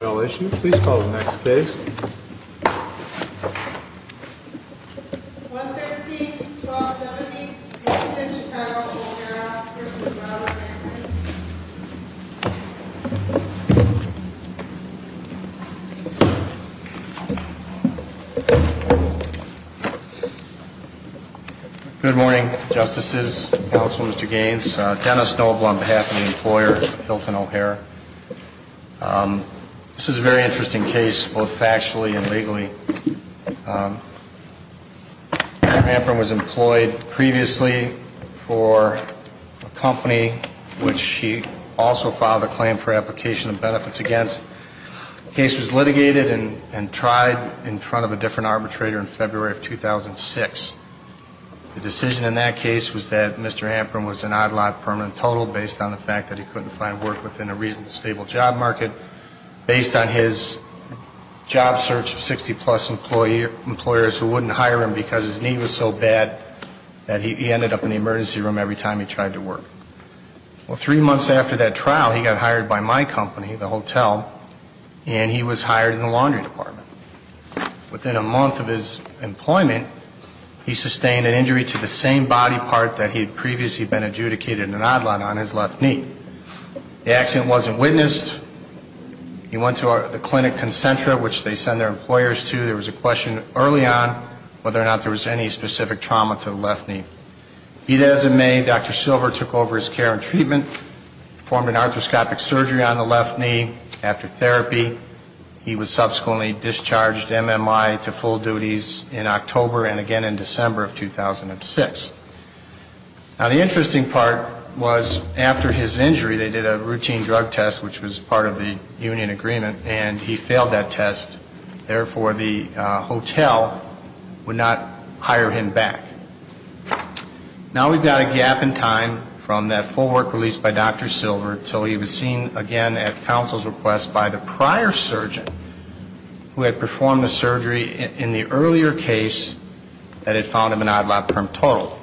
Good morning, justices, counsel, Mr. Gaines, Dennis Noble on behalf of the employer Hilton Chicago O'Hare. This is a very interesting case, both factually and legally. Mr. Amprim was employed previously for a company which he also filed a claim for application of benefits against. The case was litigated and tried in front of a different arbitrator in February of 2006. The decision in that case was that Mr. Amprim was an odd lot permanent total based on the fact that he couldn't find work within a reasonably stable job market, based on his job search of 60-plus employers who wouldn't hire him because his need was so bad that he ended up in the emergency room every time he tried to work. Well, three months after that trial, he got hired by my company, the hotel, and he was hired in the laundry department. Within a month of his employment, he sustained an injury to the same body part that he had previously been adjudicated an odd lot on his left knee. The accident wasn't witnessed. He went to the clinic Concentra, which they send their employers to. There was a question early on whether or not there was any specific trauma to the left knee. As of May, Dr. Silver took over his care and treatment, performed an arthroscopic surgery on the left knee. After therapy, he was subsequently discharged MMI to full duties in October and again in December of 2006. Now, the interesting part was after his injury, they did a routine drug test, which was part of the union agreement, and he failed that test. Therefore, the hotel would not hire him back. Now we've got a gap in time from that full work released by Dr. Silver until he was seen again at counsel's request by the prior surgeon who had performed the surgery in the earlier case that had found him an odd lot per total.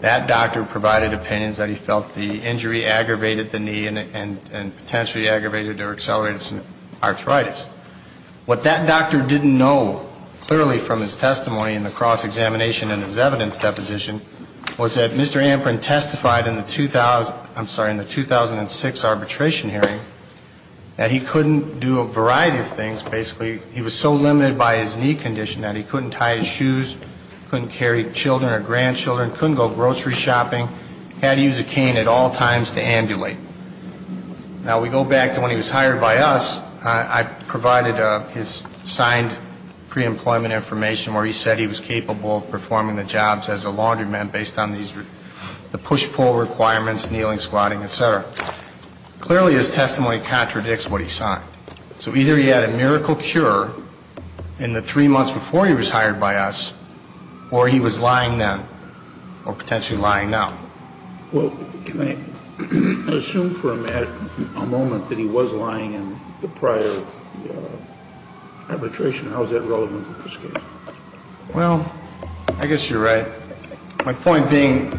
That doctor provided opinions that he felt the injury aggravated the knee and potentially aggravated or accelerated some arthritis. What that doctor didn't know clearly from his testimony in the cross-examination and his evidence deposition was that Mr. Amprin testified in the 2000, I'm sorry, in the 2006 arbitration hearing that he couldn't do a variety of things. Basically, he was so limited by his knee condition that he couldn't tie his shoes, couldn't carry children or grandchildren, couldn't go grocery shopping, had to use a cane at all times to ambulate. Now we go back to when he was hired by us. I provided his signed preemployment information where he said he was capable of performing the jobs as a laundromat based on these, the push-pull requirements, kneeling, squatting, et cetera. Clearly, his testimony contradicts what he signed. So either he had a miracle cure in the three months before he was hired by us, or he was lying then, or potentially lying now. Well, can I assume for a moment that he was lying in the prior arbitration? How is that relevant in this case? Well, I guess you're right. My point being,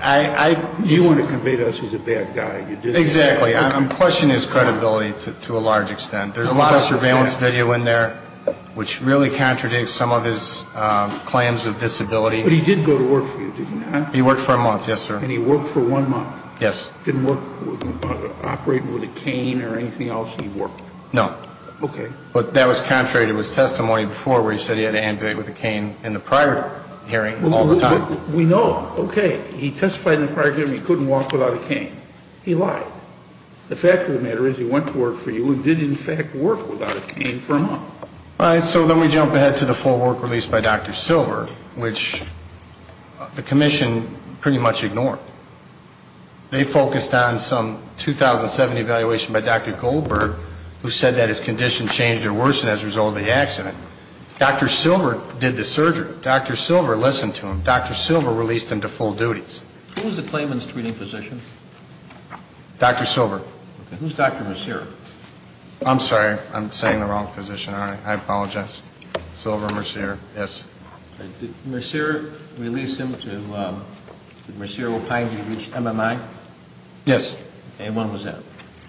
I don't see you want to convict us he's a bad guy. Exactly. I'm questioning his credibility to a large extent. There's a lot of surveillance video in there which really contradicts some of his claims of disability. But he did go to work for you, didn't he? He worked for a month, yes, sir. And he worked for one month? Yes. Didn't work operating with a cane or anything else? He worked? No. Okay. But that was contrary to his testimony before where he said he had to ambulate with a cane in the prior hearing all the time. We know. Okay. He testified in the prior hearing he couldn't walk without a cane. He lied. The fact of the matter is he went to work for you and did in fact work without a cane for a month. All right. So then we jump ahead to the full work released by Dr. Silver, which the commission pretty much ignored. They focused on some 2007 evaluation by Dr. Goldberg who said that his condition changed or worsened as a result of the accident. Dr. Silver did the surgery. Dr. Silver listened to him. Dr. Silver released him to full duties. Who was the claimant's treating physician? Dr. Silver. Who's Dr. Mercier? I'm sorry. I'm saying the wrong physician. I apologize. Silver Mercier. Yes. Did Mercier release him to, did Mercier opine he reached MMI? Yes. And when was that?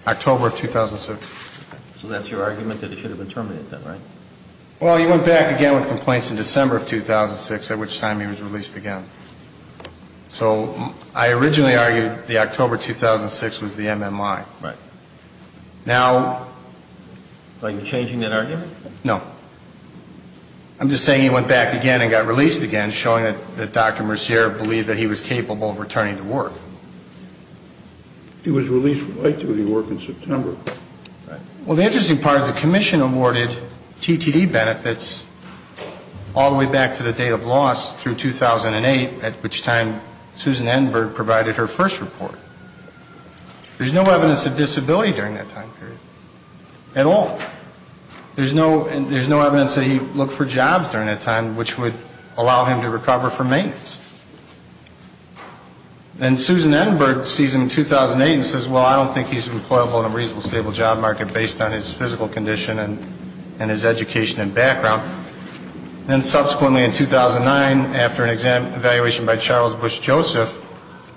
October of 2007. So that's your argument that he should have been terminated then, right? Well, he went back again with complaints in December of 2006, at which time he was released again. So I originally argued the October 2006 was the MMI. Right. Now... Are you changing that argument? No. I'm just saying he went back again and got released again, showing that Dr. Mercier believed that he was capable of returning to work. He was released right to the work in September. Well, the interesting part is the commission awarded TTD benefits all the way back to the date of loss through 2008, at which time Susan Enberg provided her first report. There's no evidence of disability during that time period. At all. There's no evidence that he looked for jobs during that time, which would allow him to recover for maintenance. And Susan Enberg sees him in 2008 and says, well, I don't think he's employable in a reasonable, stable job market based on his physical condition and his education and background. And subsequently in 2009, after an evaluation by Charles Bush Joseph,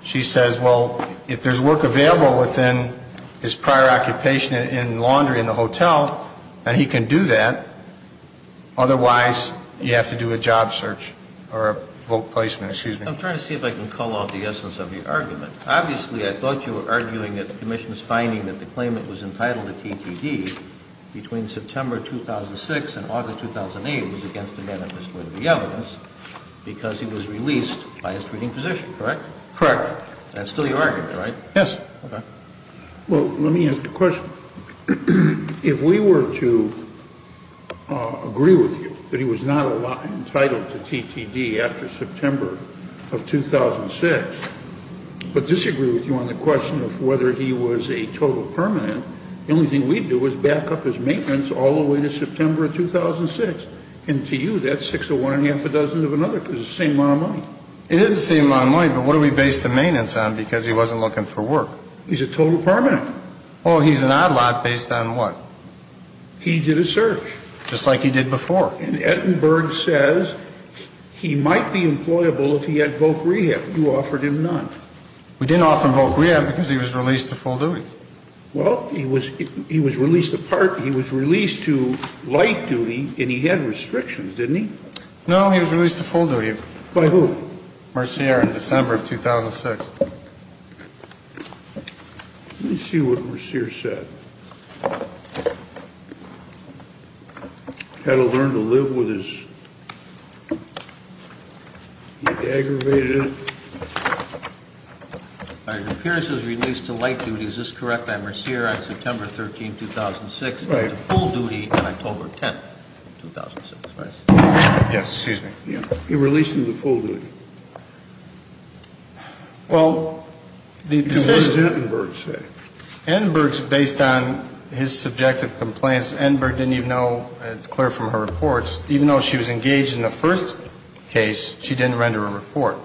she says, well, if there's work available within his prior occupation in laundry in the hotel, and he can do that, otherwise you have to do a job search or a vote placement. Excuse me. I'm trying to see if I can call off the essence of the argument. Obviously, I thought you were arguing that the commission's finding that the claimant was entitled to TTD between September 2006 and August 2008 was against the manifesto of the evidence because he was released by his treating physician. Correct? Correct. That's still your argument, right? Yes. Well, let me ask a question. If we were to agree with you that he was not entitled to TTD after September of 2006, but disagree with you on the question of whether he was a total permanent, the only thing we'd do is back up his maintenance all the way to September of 2006. And to you, that's six of one and a half a dozen of another because it's the same amount of money. It is the same amount of money, but what do we base the maintenance on because he wasn't looking for work? He's a total permanent. Well, he's an odd lot based on what? He did a search. Just like he did before. And Ettenberg says he might be employable if he had voc rehab. You offered him none. We didn't offer him voc rehab because he was released to full duty. Well, he was released to light duty and he had restrictions, didn't he? No, he was released to full duty. By who? Mercier in December of 2006. Let me see what Mercier said. Had to learn to live with his, he had aggravated it. Your appearance was released to light duty, is this correct, by Mercier on September 13, 2006? Right. To full duty on October 10, 2006, right? Yes, excuse me. He released him to full duty. Well, the decision. What did Ettenberg say? Ettenberg, based on his subjective complaints, Ettenberg didn't even know, it's clear from her reports, even though she was engaged in the first case, she didn't render a report.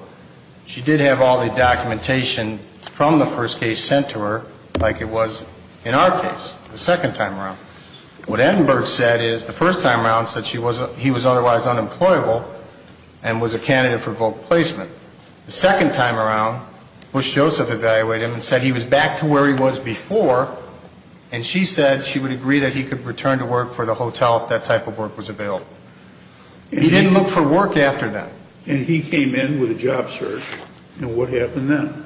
She did have all the documentation from the first case sent to her like it was in our case, the second time around. What Ettenberg said is the first time around said he was otherwise unemployable and was a candidate for vote placement. The second time around, Bush Joseph evaluated him and said he was back to where he was before and she said she would agree that he could return to work for the hotel if that type of work was available. He didn't look for work after that. And he came in with a job search, and what happened then?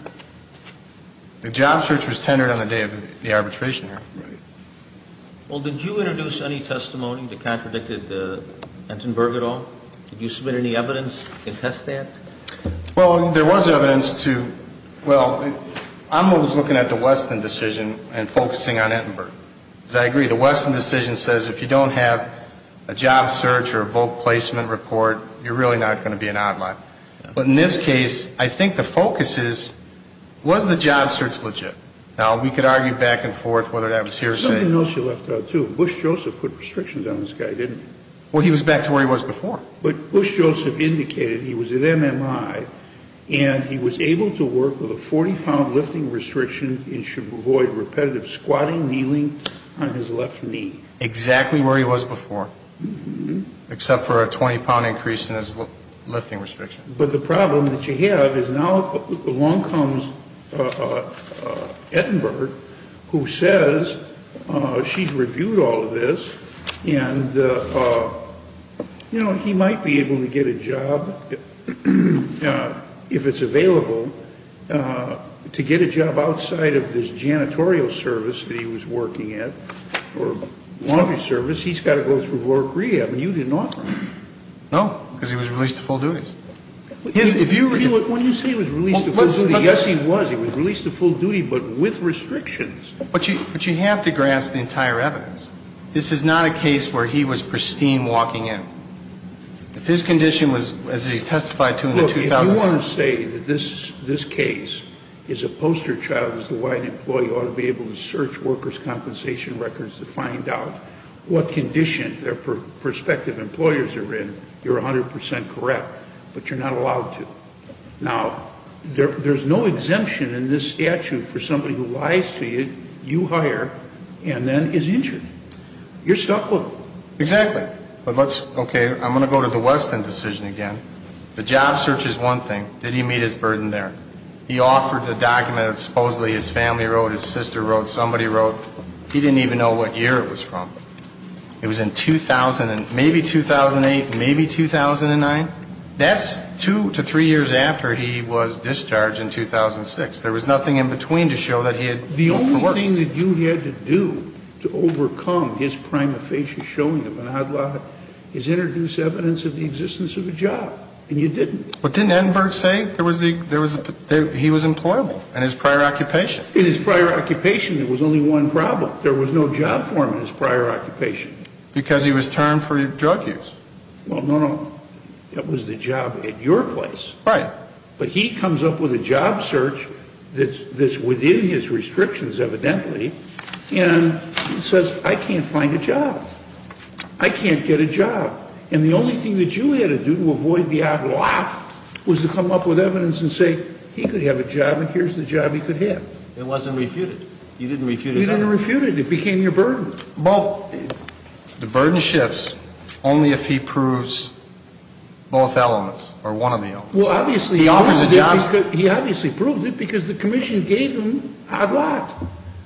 The job search was tendered on the day of the arbitration hearing. Right. Well, did you introduce any testimony that contradicted Ettenberg at all? Did you submit any evidence to contest that? Well, there was evidence to, well, I was looking at the Weston decision and focusing on Ettenberg. As I agree, the Weston decision says if you don't have a job search or a vote placement report, you're really not going to be an outlaw. But in this case, I think the focus is was the job search legit? Now, we could argue back and forth whether that was hearsay. I didn't know she left out, too. Bush Joseph put restrictions on this guy, didn't he? Well, he was back to where he was before. But Bush Joseph indicated he was at MMI and he was able to work with a 40-pound lifting restriction and should avoid repetitive squatting, kneeling on his left knee. Exactly where he was before, except for a 20-pound increase in his lifting restriction. But the problem that you have is now along comes Ettenberg, who says she's reviewed all of this and, you know, he might be able to get a job, if it's available, to get a job outside of this janitorial service that he was working at or laundry service. He's got to go through work rehab, and you didn't offer him. No, because he was released to full duties. When you say he was released to full duties, yes, he was. He was released to full duty, but with restrictions. But you have to grasp the entire evidence. This is not a case where he was pristine walking in. If his condition was, as he testified to in the 2006 case. Look, if you want to say that this case is a poster child as to why an employee ought to be able to search workers' compensation records to find out what condition their prospective employers are in, you're 100 percent correct. But you're not allowed to. Now, there's no exemption in this statute for somebody who lies to you, you hire, and then is injured. You're stuck with them. Exactly. Okay, I'm going to go to the Weston decision again. The job search is one thing. Did he meet his burden there? He offered the document that supposedly his family wrote, his sister wrote, somebody wrote. He didn't even know what year it was from. It was in 2000 and maybe 2008, maybe 2009. That's two to three years after he was discharged in 2006. There was nothing in between to show that he had looked for work. The only thing that you had to do to overcome his prima facie showing of an odd lot is introduce evidence of the existence of a job. And you didn't. But didn't Edinburgh say there was a he was employable in his prior occupation? In his prior occupation, there was only one problem. There was no job for him in his prior occupation. Because he was termed for drug use. Well, no, no. It was the job at your place. Right. But he comes up with a job search that's within his restrictions, evidently, and says I can't find a job. I can't get a job. And the only thing that you had to do to avoid the odd lot was to come up with evidence and say he could have a job and here's the job he could have. It wasn't refuted. You didn't refute his argument. You didn't refute it. It became your burden. Well, the burden shifts only if he proves both elements or one of the elements. He offers a job. He obviously proved it because the commission gave him an odd lot.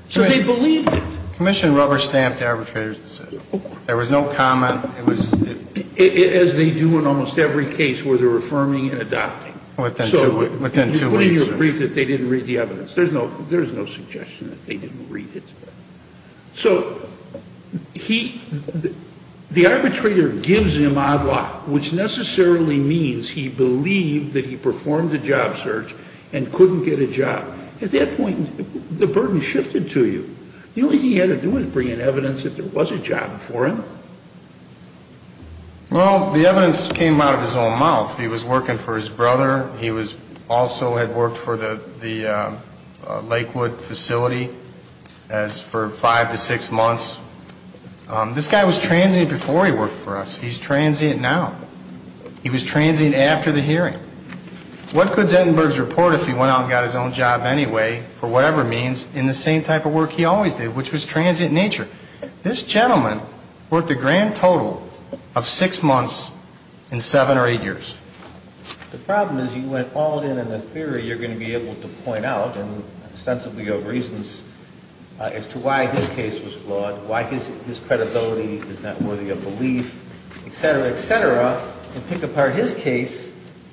So they believed it. Commission rubber stamped the arbitrator's decision. There was no comment. As they do in almost every case where they're affirming and adopting. Within two weeks. There's no suggestion that they didn't read the evidence. There's no suggestion that they didn't read it. So the arbitrator gives him odd lot, which necessarily means he believed that he performed a job search and couldn't get a job. At that point, the burden shifted to you. The only thing he had to do was bring in evidence that there was a job for him. Well, the evidence came out of his own mouth. He was working for his brother. He also had worked for the Lakewood facility for five to six months. This guy was transient before he worked for us. He's transient now. He was transient after the hearing. What could Zettenberg's report if he went out and got his own job anyway, for whatever means, in the same type of work he always did, which was transient nature? This gentleman worked a grand total of six months in seven or eight years. The problem is you went all in on the theory you're going to be able to point out, and extensively of reasons, as to why his case was flawed, why his credibility is not worthy of belief, et cetera, et cetera, and pick apart his case.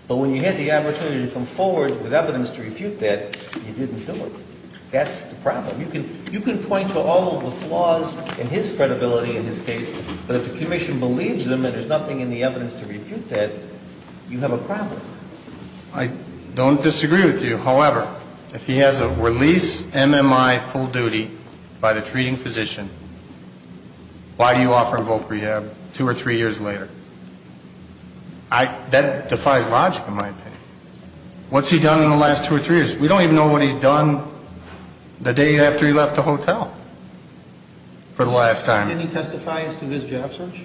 But when you had the opportunity to come forward with evidence to refute that, you didn't do it. That's the problem. You can point to all of the flaws in his credibility in his case. But if the commission believes him and there's nothing in the evidence to refute that, you have a problem. I don't disagree with you. However, if he has a release MMI full duty by the treating physician, why do you offer him voc rehab two or three years later? That defies logic, in my opinion. What's he done in the last two or three years? We don't even know what he's done the day after he left the hotel for the last time. Didn't he testify as to his job search?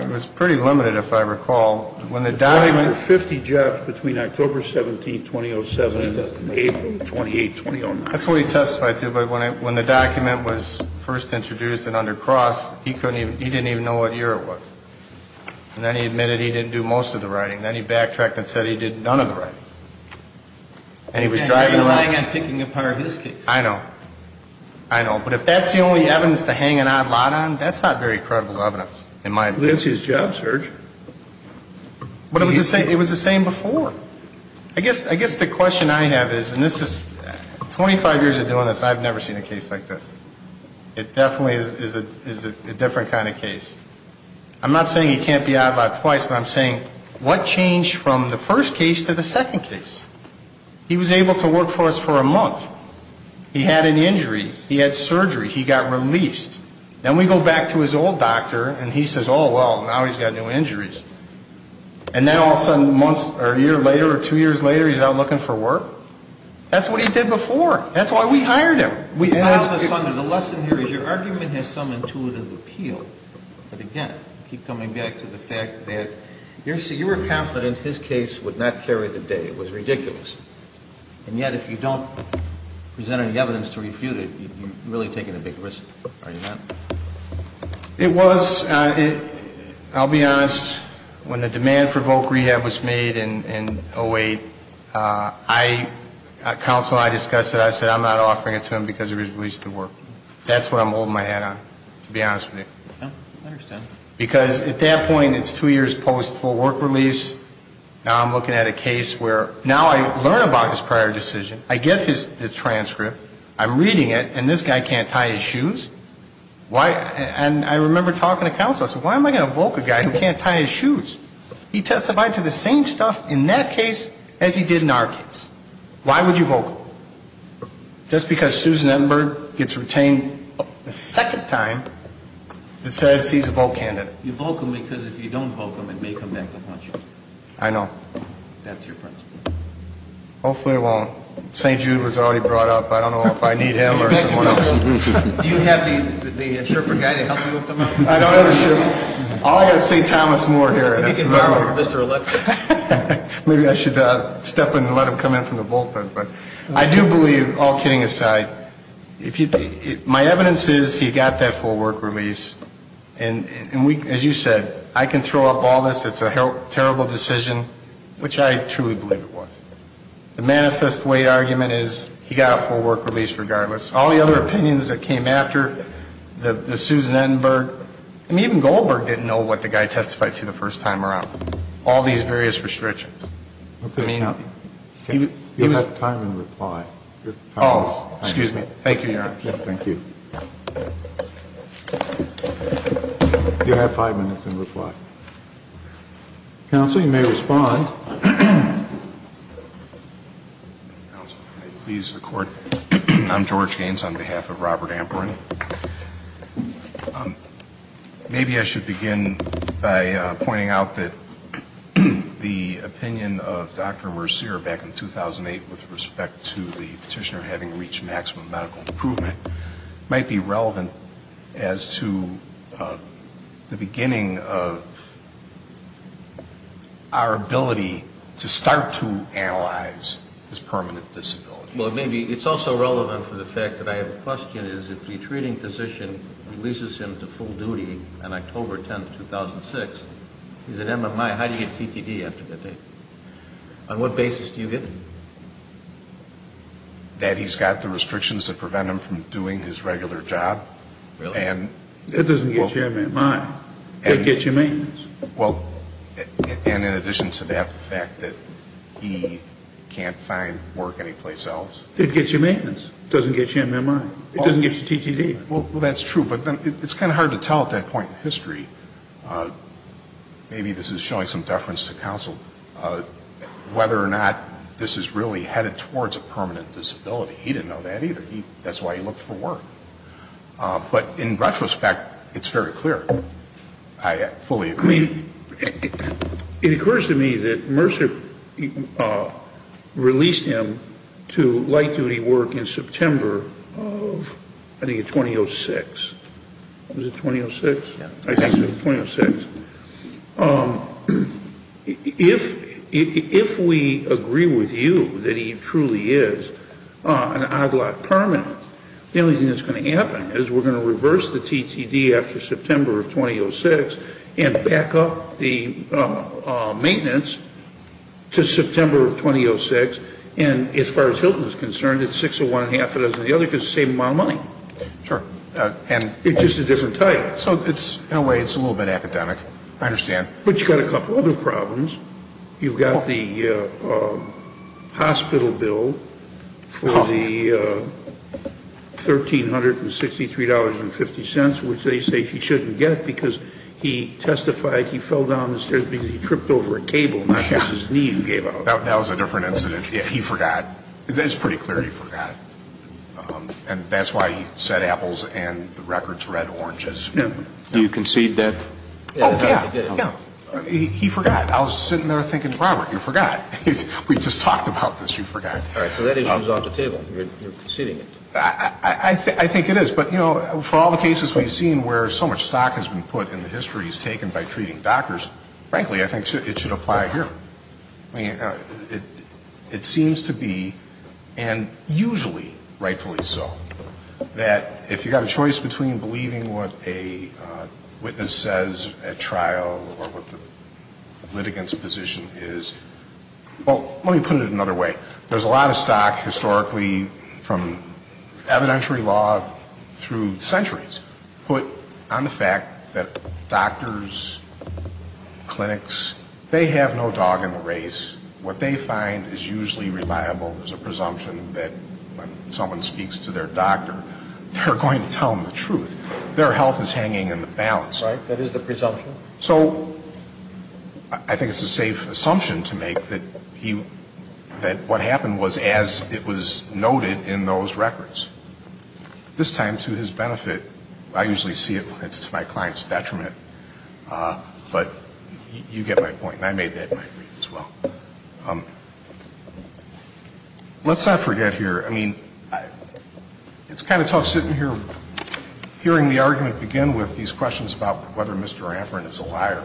It was pretty limited, if I recall. He testified for 50 jobs between October 17th, 2007 and April 28th, 2009. That's what he testified to. But when the document was first introduced in under Cross, he didn't even know what year it was. And then he admitted he didn't do most of the writing. Then he backtracked and said he did none of the writing. And he was driving around. And relying on picking apart his case. I know. I know. But if that's the only evidence to hang an odd lot on, that's not very credible evidence, in my opinion. Well, that's his job search. But it was the same before. I guess the question I have is, and this is 25 years of doing this, I've never seen a case like this. It definitely is a different kind of case. I'm not saying he can't be odd lot twice, but I'm saying what changed from the first case to the second case? He was able to work for us for a month. He had an injury. He had surgery. He got released. Then we go back to his old doctor, and he says, oh, well, now he's got new injuries. And now all of a sudden, months or a year later or two years later, he's out looking for work? That's what he did before. That's why we hired him. The lesson here is your argument has some intuitive appeal. But, again, keep coming back to the fact that you were confident his case would not carry the day. It was ridiculous. And yet if you don't present any evidence to refute it, you're really taking a big risk. Are you not? It was. I'll be honest. When the demand for voc rehab was made in 08, I, counsel, I discussed it. I said I'm not offering it to him because he was released from work. That's what I'm holding my hat on, to be honest with you. I understand. Because at that point, it's two years post full work release. Now I'm looking at a case where now I learn about his prior decision. I get his transcript. I'm reading it. And this guy can't tie his shoes. And I remember talking to counsel. I said, why am I going to invoke a guy who can't tie his shoes? He testified to the same stuff in that case as he did in our case. Why would you invoke him? Just because Susan Emberg gets retained a second time that says he's a vote candidate. You invoke him because if you don't invoke him, it may come back to haunt you. I know. That's your principle. Hopefully it won't. St. Jude was already brought up. I don't know if I need him or someone else. Do you have the Sherpa guy to help you with them? I don't have a Sherpa. All I got is St. Thomas Moore here. Maybe you can bust him for Mr. Alexis. Maybe I should step in and let him come in from the bullpen. But I do believe, all kidding aside, my evidence is he got that full work release. And as you said, I can throw up all this. It's a terrible decision, which I truly believe it was. The manifest weight argument is he got a full work release regardless. All the other opinions that came after, the Susan Emberg, I mean, even Goldberg didn't know what the guy testified to the first time around. All these various restrictions. I mean, he was the time and reply. Oh, excuse me. Thank you, Your Honor. Thank you. Do you have five minutes in reply? Counsel, you may respond. Counsel, if I may please the Court. I'm George Gaines on behalf of Robert Amperin. Maybe I should begin by pointing out that the opinion of Dr. Mercier back in 2008 with respect to the petitioner having reached maximum medical improvement might be relevant as to the beginning of our ability to start to analyze his permanent disability. Well, it's also relevant for the fact that I have a question. If the treating physician releases him to full duty on October 10, 2006, he's an MMI, how do you get TTD after that date? On what basis do you get it? That he's got the restrictions that prevent him from doing his regular job. Really? That doesn't get you MMI. It gets you maintenance. Well, and in addition to that, the fact that he can't find work anyplace else. It gets you maintenance. It doesn't get you MMI. It doesn't get you TTD. Well, that's true. But then it's kind of hard to tell at that point in history. Maybe this is showing some deference to counsel. Whether or not this is really headed towards a permanent disability. He didn't know that either. That's why he looked for work. But in retrospect, it's very clear. I fully agree. I mean, it occurs to me that Mercier released him to light duty work in September of, I think, 2006. Was it 2006? I think so, 2006. If we agree with you that he truly is an OGLOT permanent, the only thing that's going to happen is we're going to reverse the TTD after September of 2006 and back up the maintenance to September of 2006. And as far as Hilton is concerned, it's six of one and half a dozen of the other because it's the same amount of money. Sure. And it's just a different type. So in a way, it's a little bit academic. I understand. But you've got a couple other problems. You've got the hospital bill for the $1,363.50, which they say he shouldn't get because he testified he fell down the stairs because he tripped over a cable, not because his knee gave out. That was a different incident. It's pretty clear he forgot. And that's why he said apples and the record's red oranges. Do you concede that? Oh, yeah. He forgot. I was sitting there thinking, Robert, you forgot. We just talked about this. You forgot. All right. So that issue's off the table. You're conceding it. I think it is. But, you know, for all the cases we've seen where so much stock has been put and the history is taken by treating doctors, frankly, I think it should apply here. I mean, it seems to be, and usually rightfully so, that if you've got a choice between believing what a witness says at trial or what the litigant's position is, well, let me put it another way. There's a lot of stock historically from evidentiary law through centuries put on the fact that doctors, clinics, they have no dog in the race. What they find is usually reliable is a presumption that when someone speaks to their doctor, they're going to tell them the truth. Their health is hanging in the balance. Right. That is the presumption. So I think it's a safe assumption to make that he, that what happened was as it was noted in those records. This time, to his benefit, I usually see it as to my client's detriment. But you get my point. And I made that my point as well. Let's not forget here, I mean, it's kind of tough sitting here hearing the argument about whether Mr. Amperin is a liar.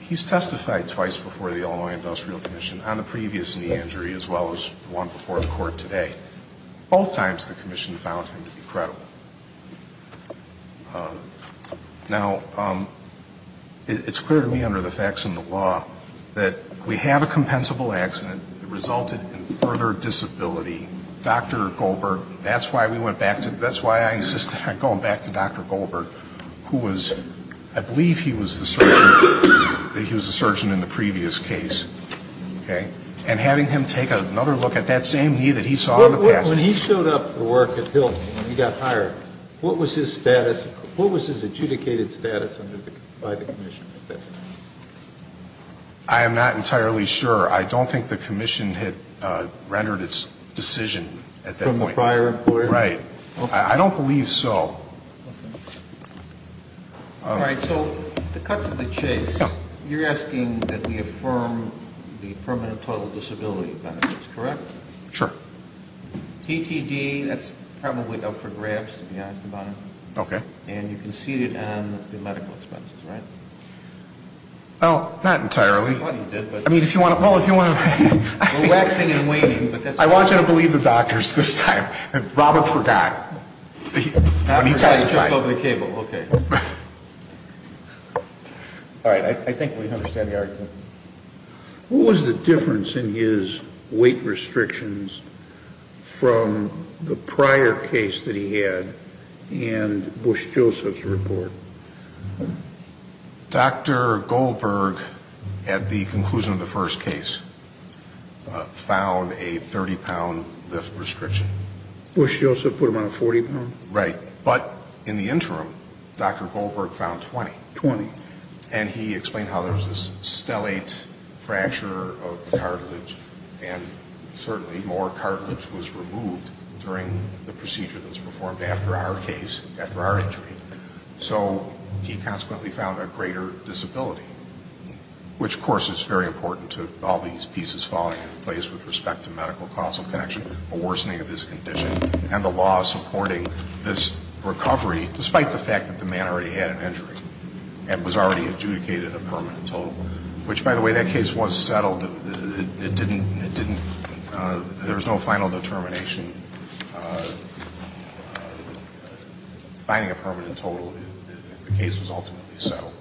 He's testified twice before the Illinois Industrial Commission on the previous knee injury as well as the one before the court today. Both times the commission found him to be credible. Now, it's clear to me under the facts and the law that we have a compensable accident that resulted in further disability. Dr. Goldberg, that's why we went back to, that's why I insisted on going back to Dr. Goldberg, who was, I believe he was the surgeon, he was the surgeon in the previous case. Okay. And having him take another look at that same knee that he saw in the past. When he showed up to work at Hilton, when he got hired, what was his status, what was his adjudicated status by the commission? I am not entirely sure. I don't think the commission had rendered its decision at that point. From the prior employer? Right. I don't believe so. All right, so to cut to the chase, you're asking that we affirm the permanent total disability benefits, correct? Sure. TTD, that's probably up for grabs, to be honest about it. Okay. And you conceded on the medical expenses, right? Well, not entirely. I mean, if you want to, well, if you want to. We're waxing and waning. I want you to believe the doctors this time. Robert forgot. He took over the cable. Okay. All right. I think we understand the argument. What was the difference in his weight restrictions from the prior case that he had and Bush Joseph's report? Dr. Goldberg, at the conclusion of the first case, found a 30-pound lift restriction. Bush Joseph put him on a 40-pound? Right. But in the interim, Dr. Goldberg found 20. 20. And he explained how there was this stellate fracture of the cartilage, and certainly more cartilage was removed during the procedure that was performed after our case, after our injury. So he consequently found a greater disability, which, of course, is very important to all these pieces falling into place with respect to medical causal connection, a worsening of his condition, and the law supporting this recovery, despite the fact that the man already had an injury and was already adjudicated a permanent total, which, by the way, that case was settled. It didn't, it didn't, there was no final determination. Finding a permanent total, the case was ultimately settled.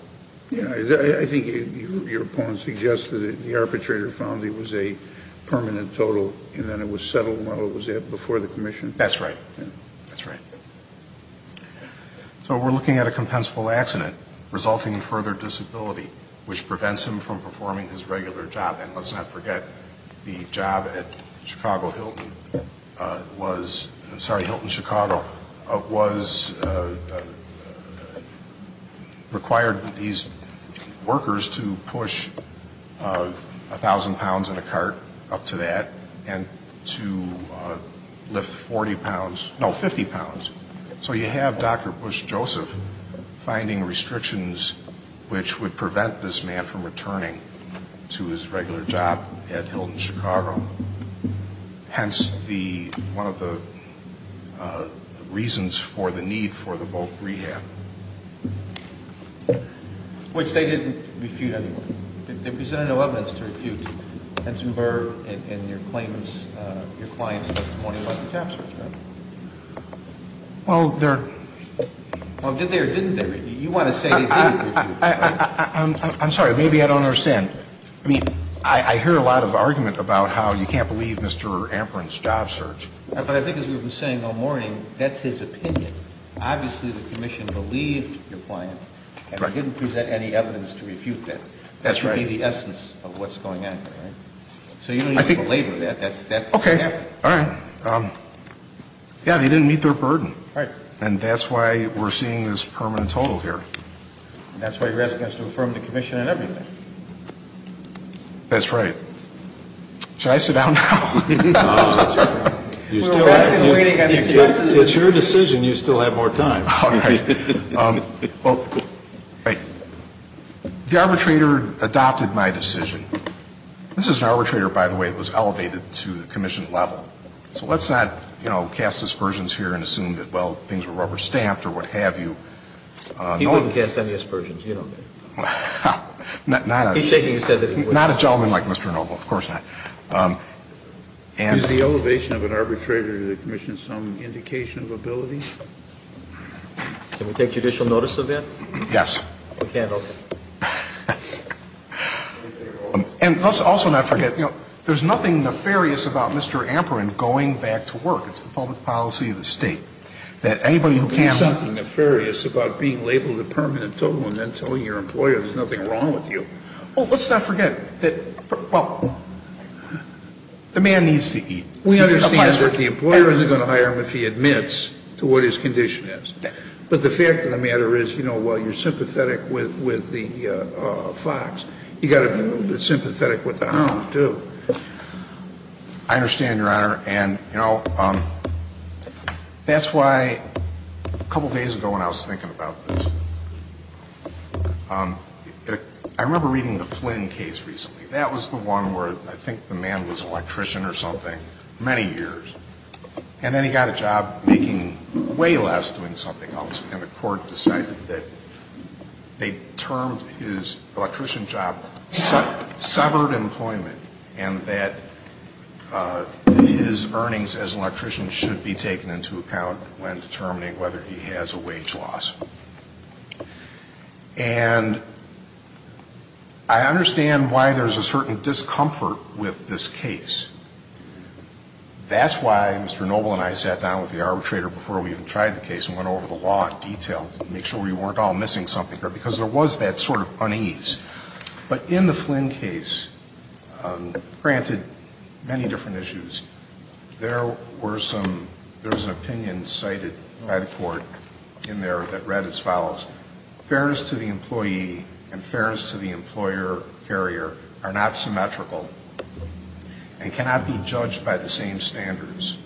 Yeah. I think your opponent suggested that the arbitrator found there was a permanent total, and then it was settled while it was before the commission. That's right. That's right. So we're looking at a compensable accident resulting in further disability, which prevents him from performing his regular job. And let's not forget the job at Chicago Hilton was, sorry, Hilton Chicago, was required these workers to push 1,000 pounds in a cart up to that and to lift 40 pounds, no, 50 pounds. So you have Dr. Bush Joseph finding restrictions which would prevent this man from returning to his regular job at Hilton Chicago, hence the, one of the reasons for the need for the voc rehab. Which they didn't refute anyway. They presented no evidence to refute. I'm sorry. Maybe I don't understand. I mean, I hear a lot of argument about how you can't believe Mr. Ampron's job search. But I think as we've been saying all morning, that's his opinion. Obviously, the commission believed your client and didn't present any evidence to refute that. That's right. That would be the essence of what's going on here, right? Okay. All right. Yeah, they didn't meet their burden. Right. And that's why we're seeing this permanent total here. And that's why you're asking us to affirm the commission and everything. That's right. Should I sit down now? No. It's your decision. You still have more time. All right. Well, right. The arbitrator adopted my decision. This is an arbitrator, by the way, that was elevated to the commission level. So let's not, you know, cast aspersions here and assume that, well, things were rubber-stamped or what have you. He wouldn't cast any aspersions. You know that. Not a gentleman like Mr. Noble. Of course not. Is the elevation of an arbitrator to the commission some indication of ability? Can we take judicial notice of that? Yes. We can, okay. And let's also not forget, you know, there's nothing nefarious about Mr. Amperin going back to work. It's the public policy of the State that anybody who can't. There's something nefarious about being labeled a permanent total and then telling your employer there's nothing wrong with you. Well, let's not forget that, well, the man needs to eat. We understand that the employer isn't going to hire him if he admits to what his condition is. But the fact of the matter is, you know, while you're sympathetic with the fox, you've got to be sympathetic with the hound, too. I understand, Your Honor. And, you know, that's why a couple days ago when I was thinking about this, I remember reading the Flynn case recently. That was the one where I think the man was an electrician or something, many years. And then he got a job making way less doing something else. And the court decided that they termed his electrician job severed employment. And that his earnings as an electrician should be taken into account when determining whether he has a wage loss. And I understand why there's a certain discomfort with this case. That's why Mr. Noble and I sat down with the arbitrator before we even tried the case and went over the law in detail to make sure we weren't all missing something because there was that sort of unease. But in the Flynn case, granted many different issues, there were some, there was an opinion cited by the court in there that read as follows. Fairness to the employee and fairness to the employer carrier are not symmetrical. And cannot be judged by the same standards.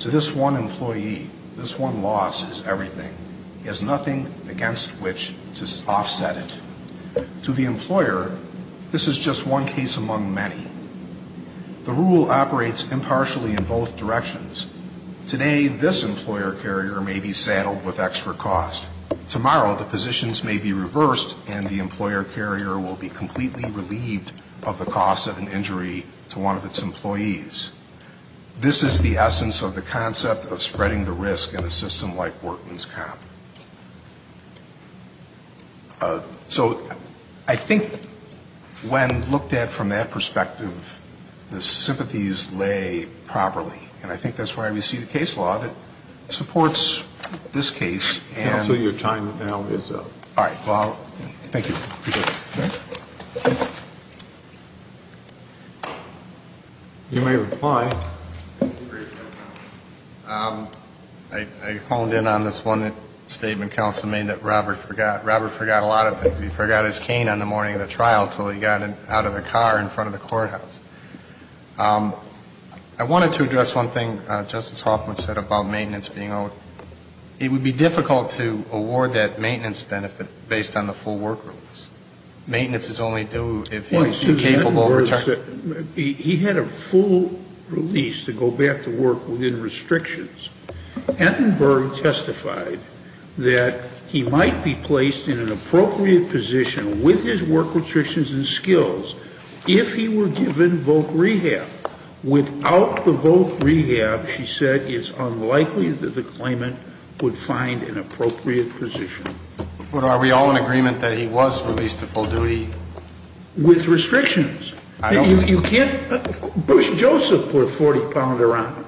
To this one employee, this one loss is everything. He has nothing against which to offset it. To the employer, this is just one case among many. The rule operates impartially in both directions. Today, this employer carrier may be saddled with extra cost. Tomorrow, the positions may be reversed and the employer carrier will be completely relieved of the cost of an injury to one of its employees. This is the essence of the concept of spreading the risk in a system like Bortman's Comp. So I think when looked at from that perspective, the sympathies lay properly. And I think that's why we see the case law that supports this case. Counsel, your time now is up. All right. Thank you. You may reply. I honed in on this one statement counsel made that Robert forgot. Robert forgot a lot of things. He forgot his cane on the morning of the trial until he got out of the car in front of the courthouse. I wanted to address one thing Justice Hoffman said about maintenance being owed. It would be difficult to award that maintenance benefit based on the full work release. Maintenance is only due if he's capable of returning. He had a full release to go back to work within restrictions. Entenberg testified that he might be placed in an appropriate position with his work restrictions and skills if he were given voc rehab. Without the voc rehab, she said, it's unlikely that the claimant would find an appropriate position. But are we all in agreement that he was released to full duty? With restrictions. You can't ‑‑ Bush Joseph put a 40 pounder on him.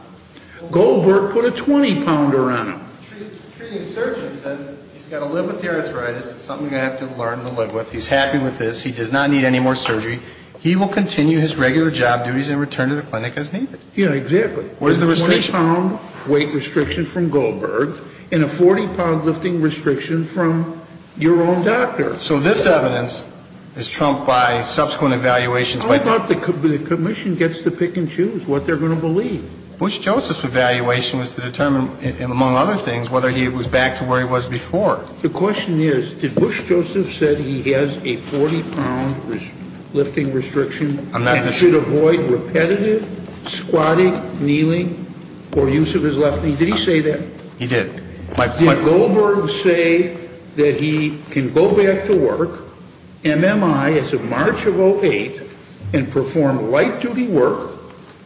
Goldberg put a 20 pounder on him. The treating surgeon said he's got to live with the arthritis. It's something I have to learn to live with. He's happy with this. He does not need any more surgery. He will continue his regular job duties and return to the clinic as needed. Yeah, exactly. 20 pound weight restriction from Goldberg and a 40 pound lifting restriction from your own doctor. So this evidence is trumped by subsequent evaluations. How about the commission gets to pick and choose what they're going to believe? Bush Joseph's evaluation was to determine, among other things, whether he was back to where he was before. The question is, did Bush Joseph say he has a 40 pound lifting restriction and should avoid repetitive squatting, kneeling or use of his left knee? Did he say that? He did. Did Goldberg say that he can go back to work, MMI as of March of 08, and perform light duty work,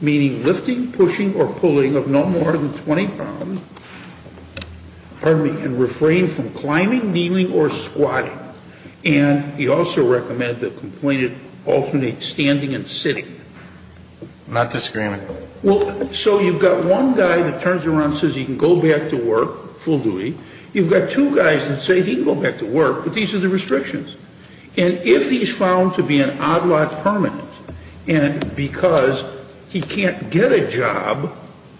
meaning lifting, pushing or pulling of no more than 20 pounds, pardon me, and refrain from climbing, kneeling or squatting? And he also recommended that the complainant alternate standing and sitting. Not disagreeing. Well, so you've got one guy that turns around and says he can go back to work, full duty. You've got two guys that say he can go back to work, but these are the restrictions. And if he's found to be an odd lot permanent, and because he can't get a job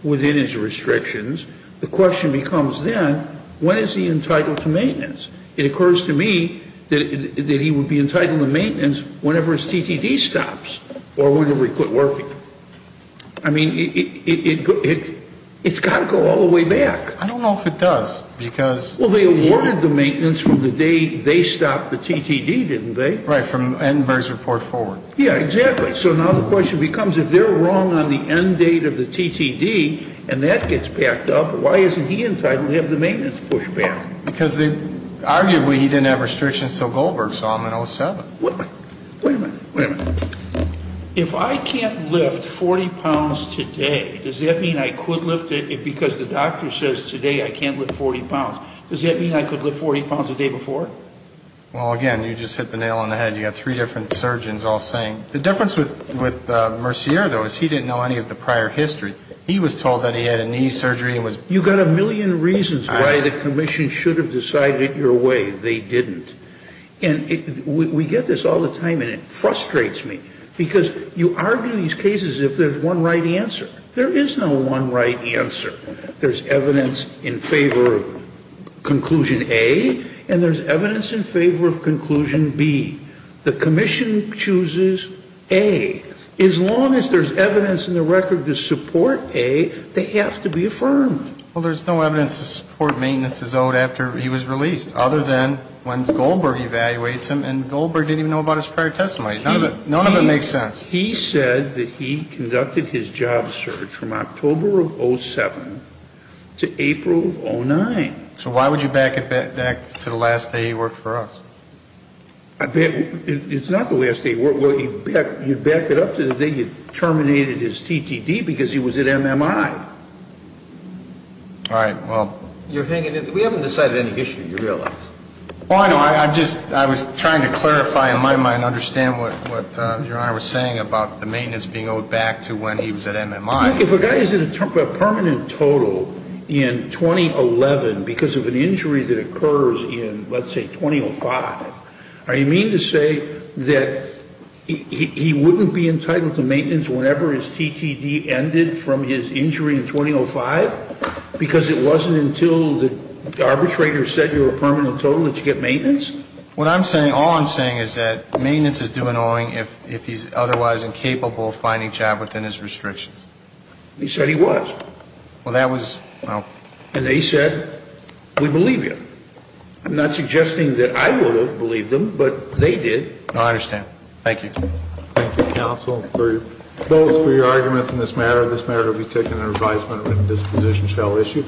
within his restrictions, the question becomes then, when is he entitled to maintenance? It occurs to me that he would be entitled to maintenance whenever his TTD stops or whenever he quit working. I mean, it's got to go all the way back. I don't know if it does. Well, they awarded the maintenance from the day they stopped the TTD, didn't they? Right. And from Murray's report forward. Yeah, exactly. So now the question becomes, if they're wrong on the end date of the TTD and that gets backed up, why isn't he entitled to have the maintenance pushed back? Because arguably he didn't have restrictions until Goldberg saw him in 07. Wait a minute. Wait a minute. If I can't lift 40 pounds today, does that mean I could lift it? Because the doctor says today I can't lift 40 pounds. Does that mean I could lift 40 pounds the day before? Well, again, you just hit the nail on the head. You've got three different surgeons all saying. The difference with Mercier, though, is he didn't know any of the prior history. He was told that he had a knee surgery. You've got a million reasons why the commission should have decided it your way. They didn't. And we get this all the time, and it frustrates me because you argue these cases if there's one right answer. There is no one right answer. There's evidence in favor of conclusion A, and there's evidence in favor of conclusion B. The commission chooses A. As long as there's evidence in the record to support A, they have to be affirmed. Well, there's no evidence to support maintenance is owed after he was released other than when Goldberg evaluates him, and Goldberg didn't even know about his prior testimony. None of it makes sense. He said that he conducted his job search from October of 07 to April of 09. So why would you back it back to the last day he worked for us? It's not the last day he worked. You back it up to the day he terminated his TTD because he was at MMI. All right. Well, you're hanging it. We haven't decided any history, you realize. Oh, I know. I just was trying to clarify in my mind, understand what Your Honor was saying about the maintenance being owed back to when he was at MMI. If a guy is in a permanent total in 2011 because of an injury that occurs in, let's say, 2005, are you meaning to say that he wouldn't be entitled to maintenance whenever his TTD ended from his injury in 2005 because it wasn't until the arbitrator said you're a permanent total that you get maintenance? What I'm saying, all I'm saying is that maintenance is due in owing if he's otherwise incapable of finding a job within his restrictions. He said he was. Well, that was, well. And they said we believe you. I'm not suggesting that I would have believed them, but they did. No, I understand. Thank you. Thank you, counsel, both for your arguments in this matter. This matter will be taken under advisement when this position shall issue.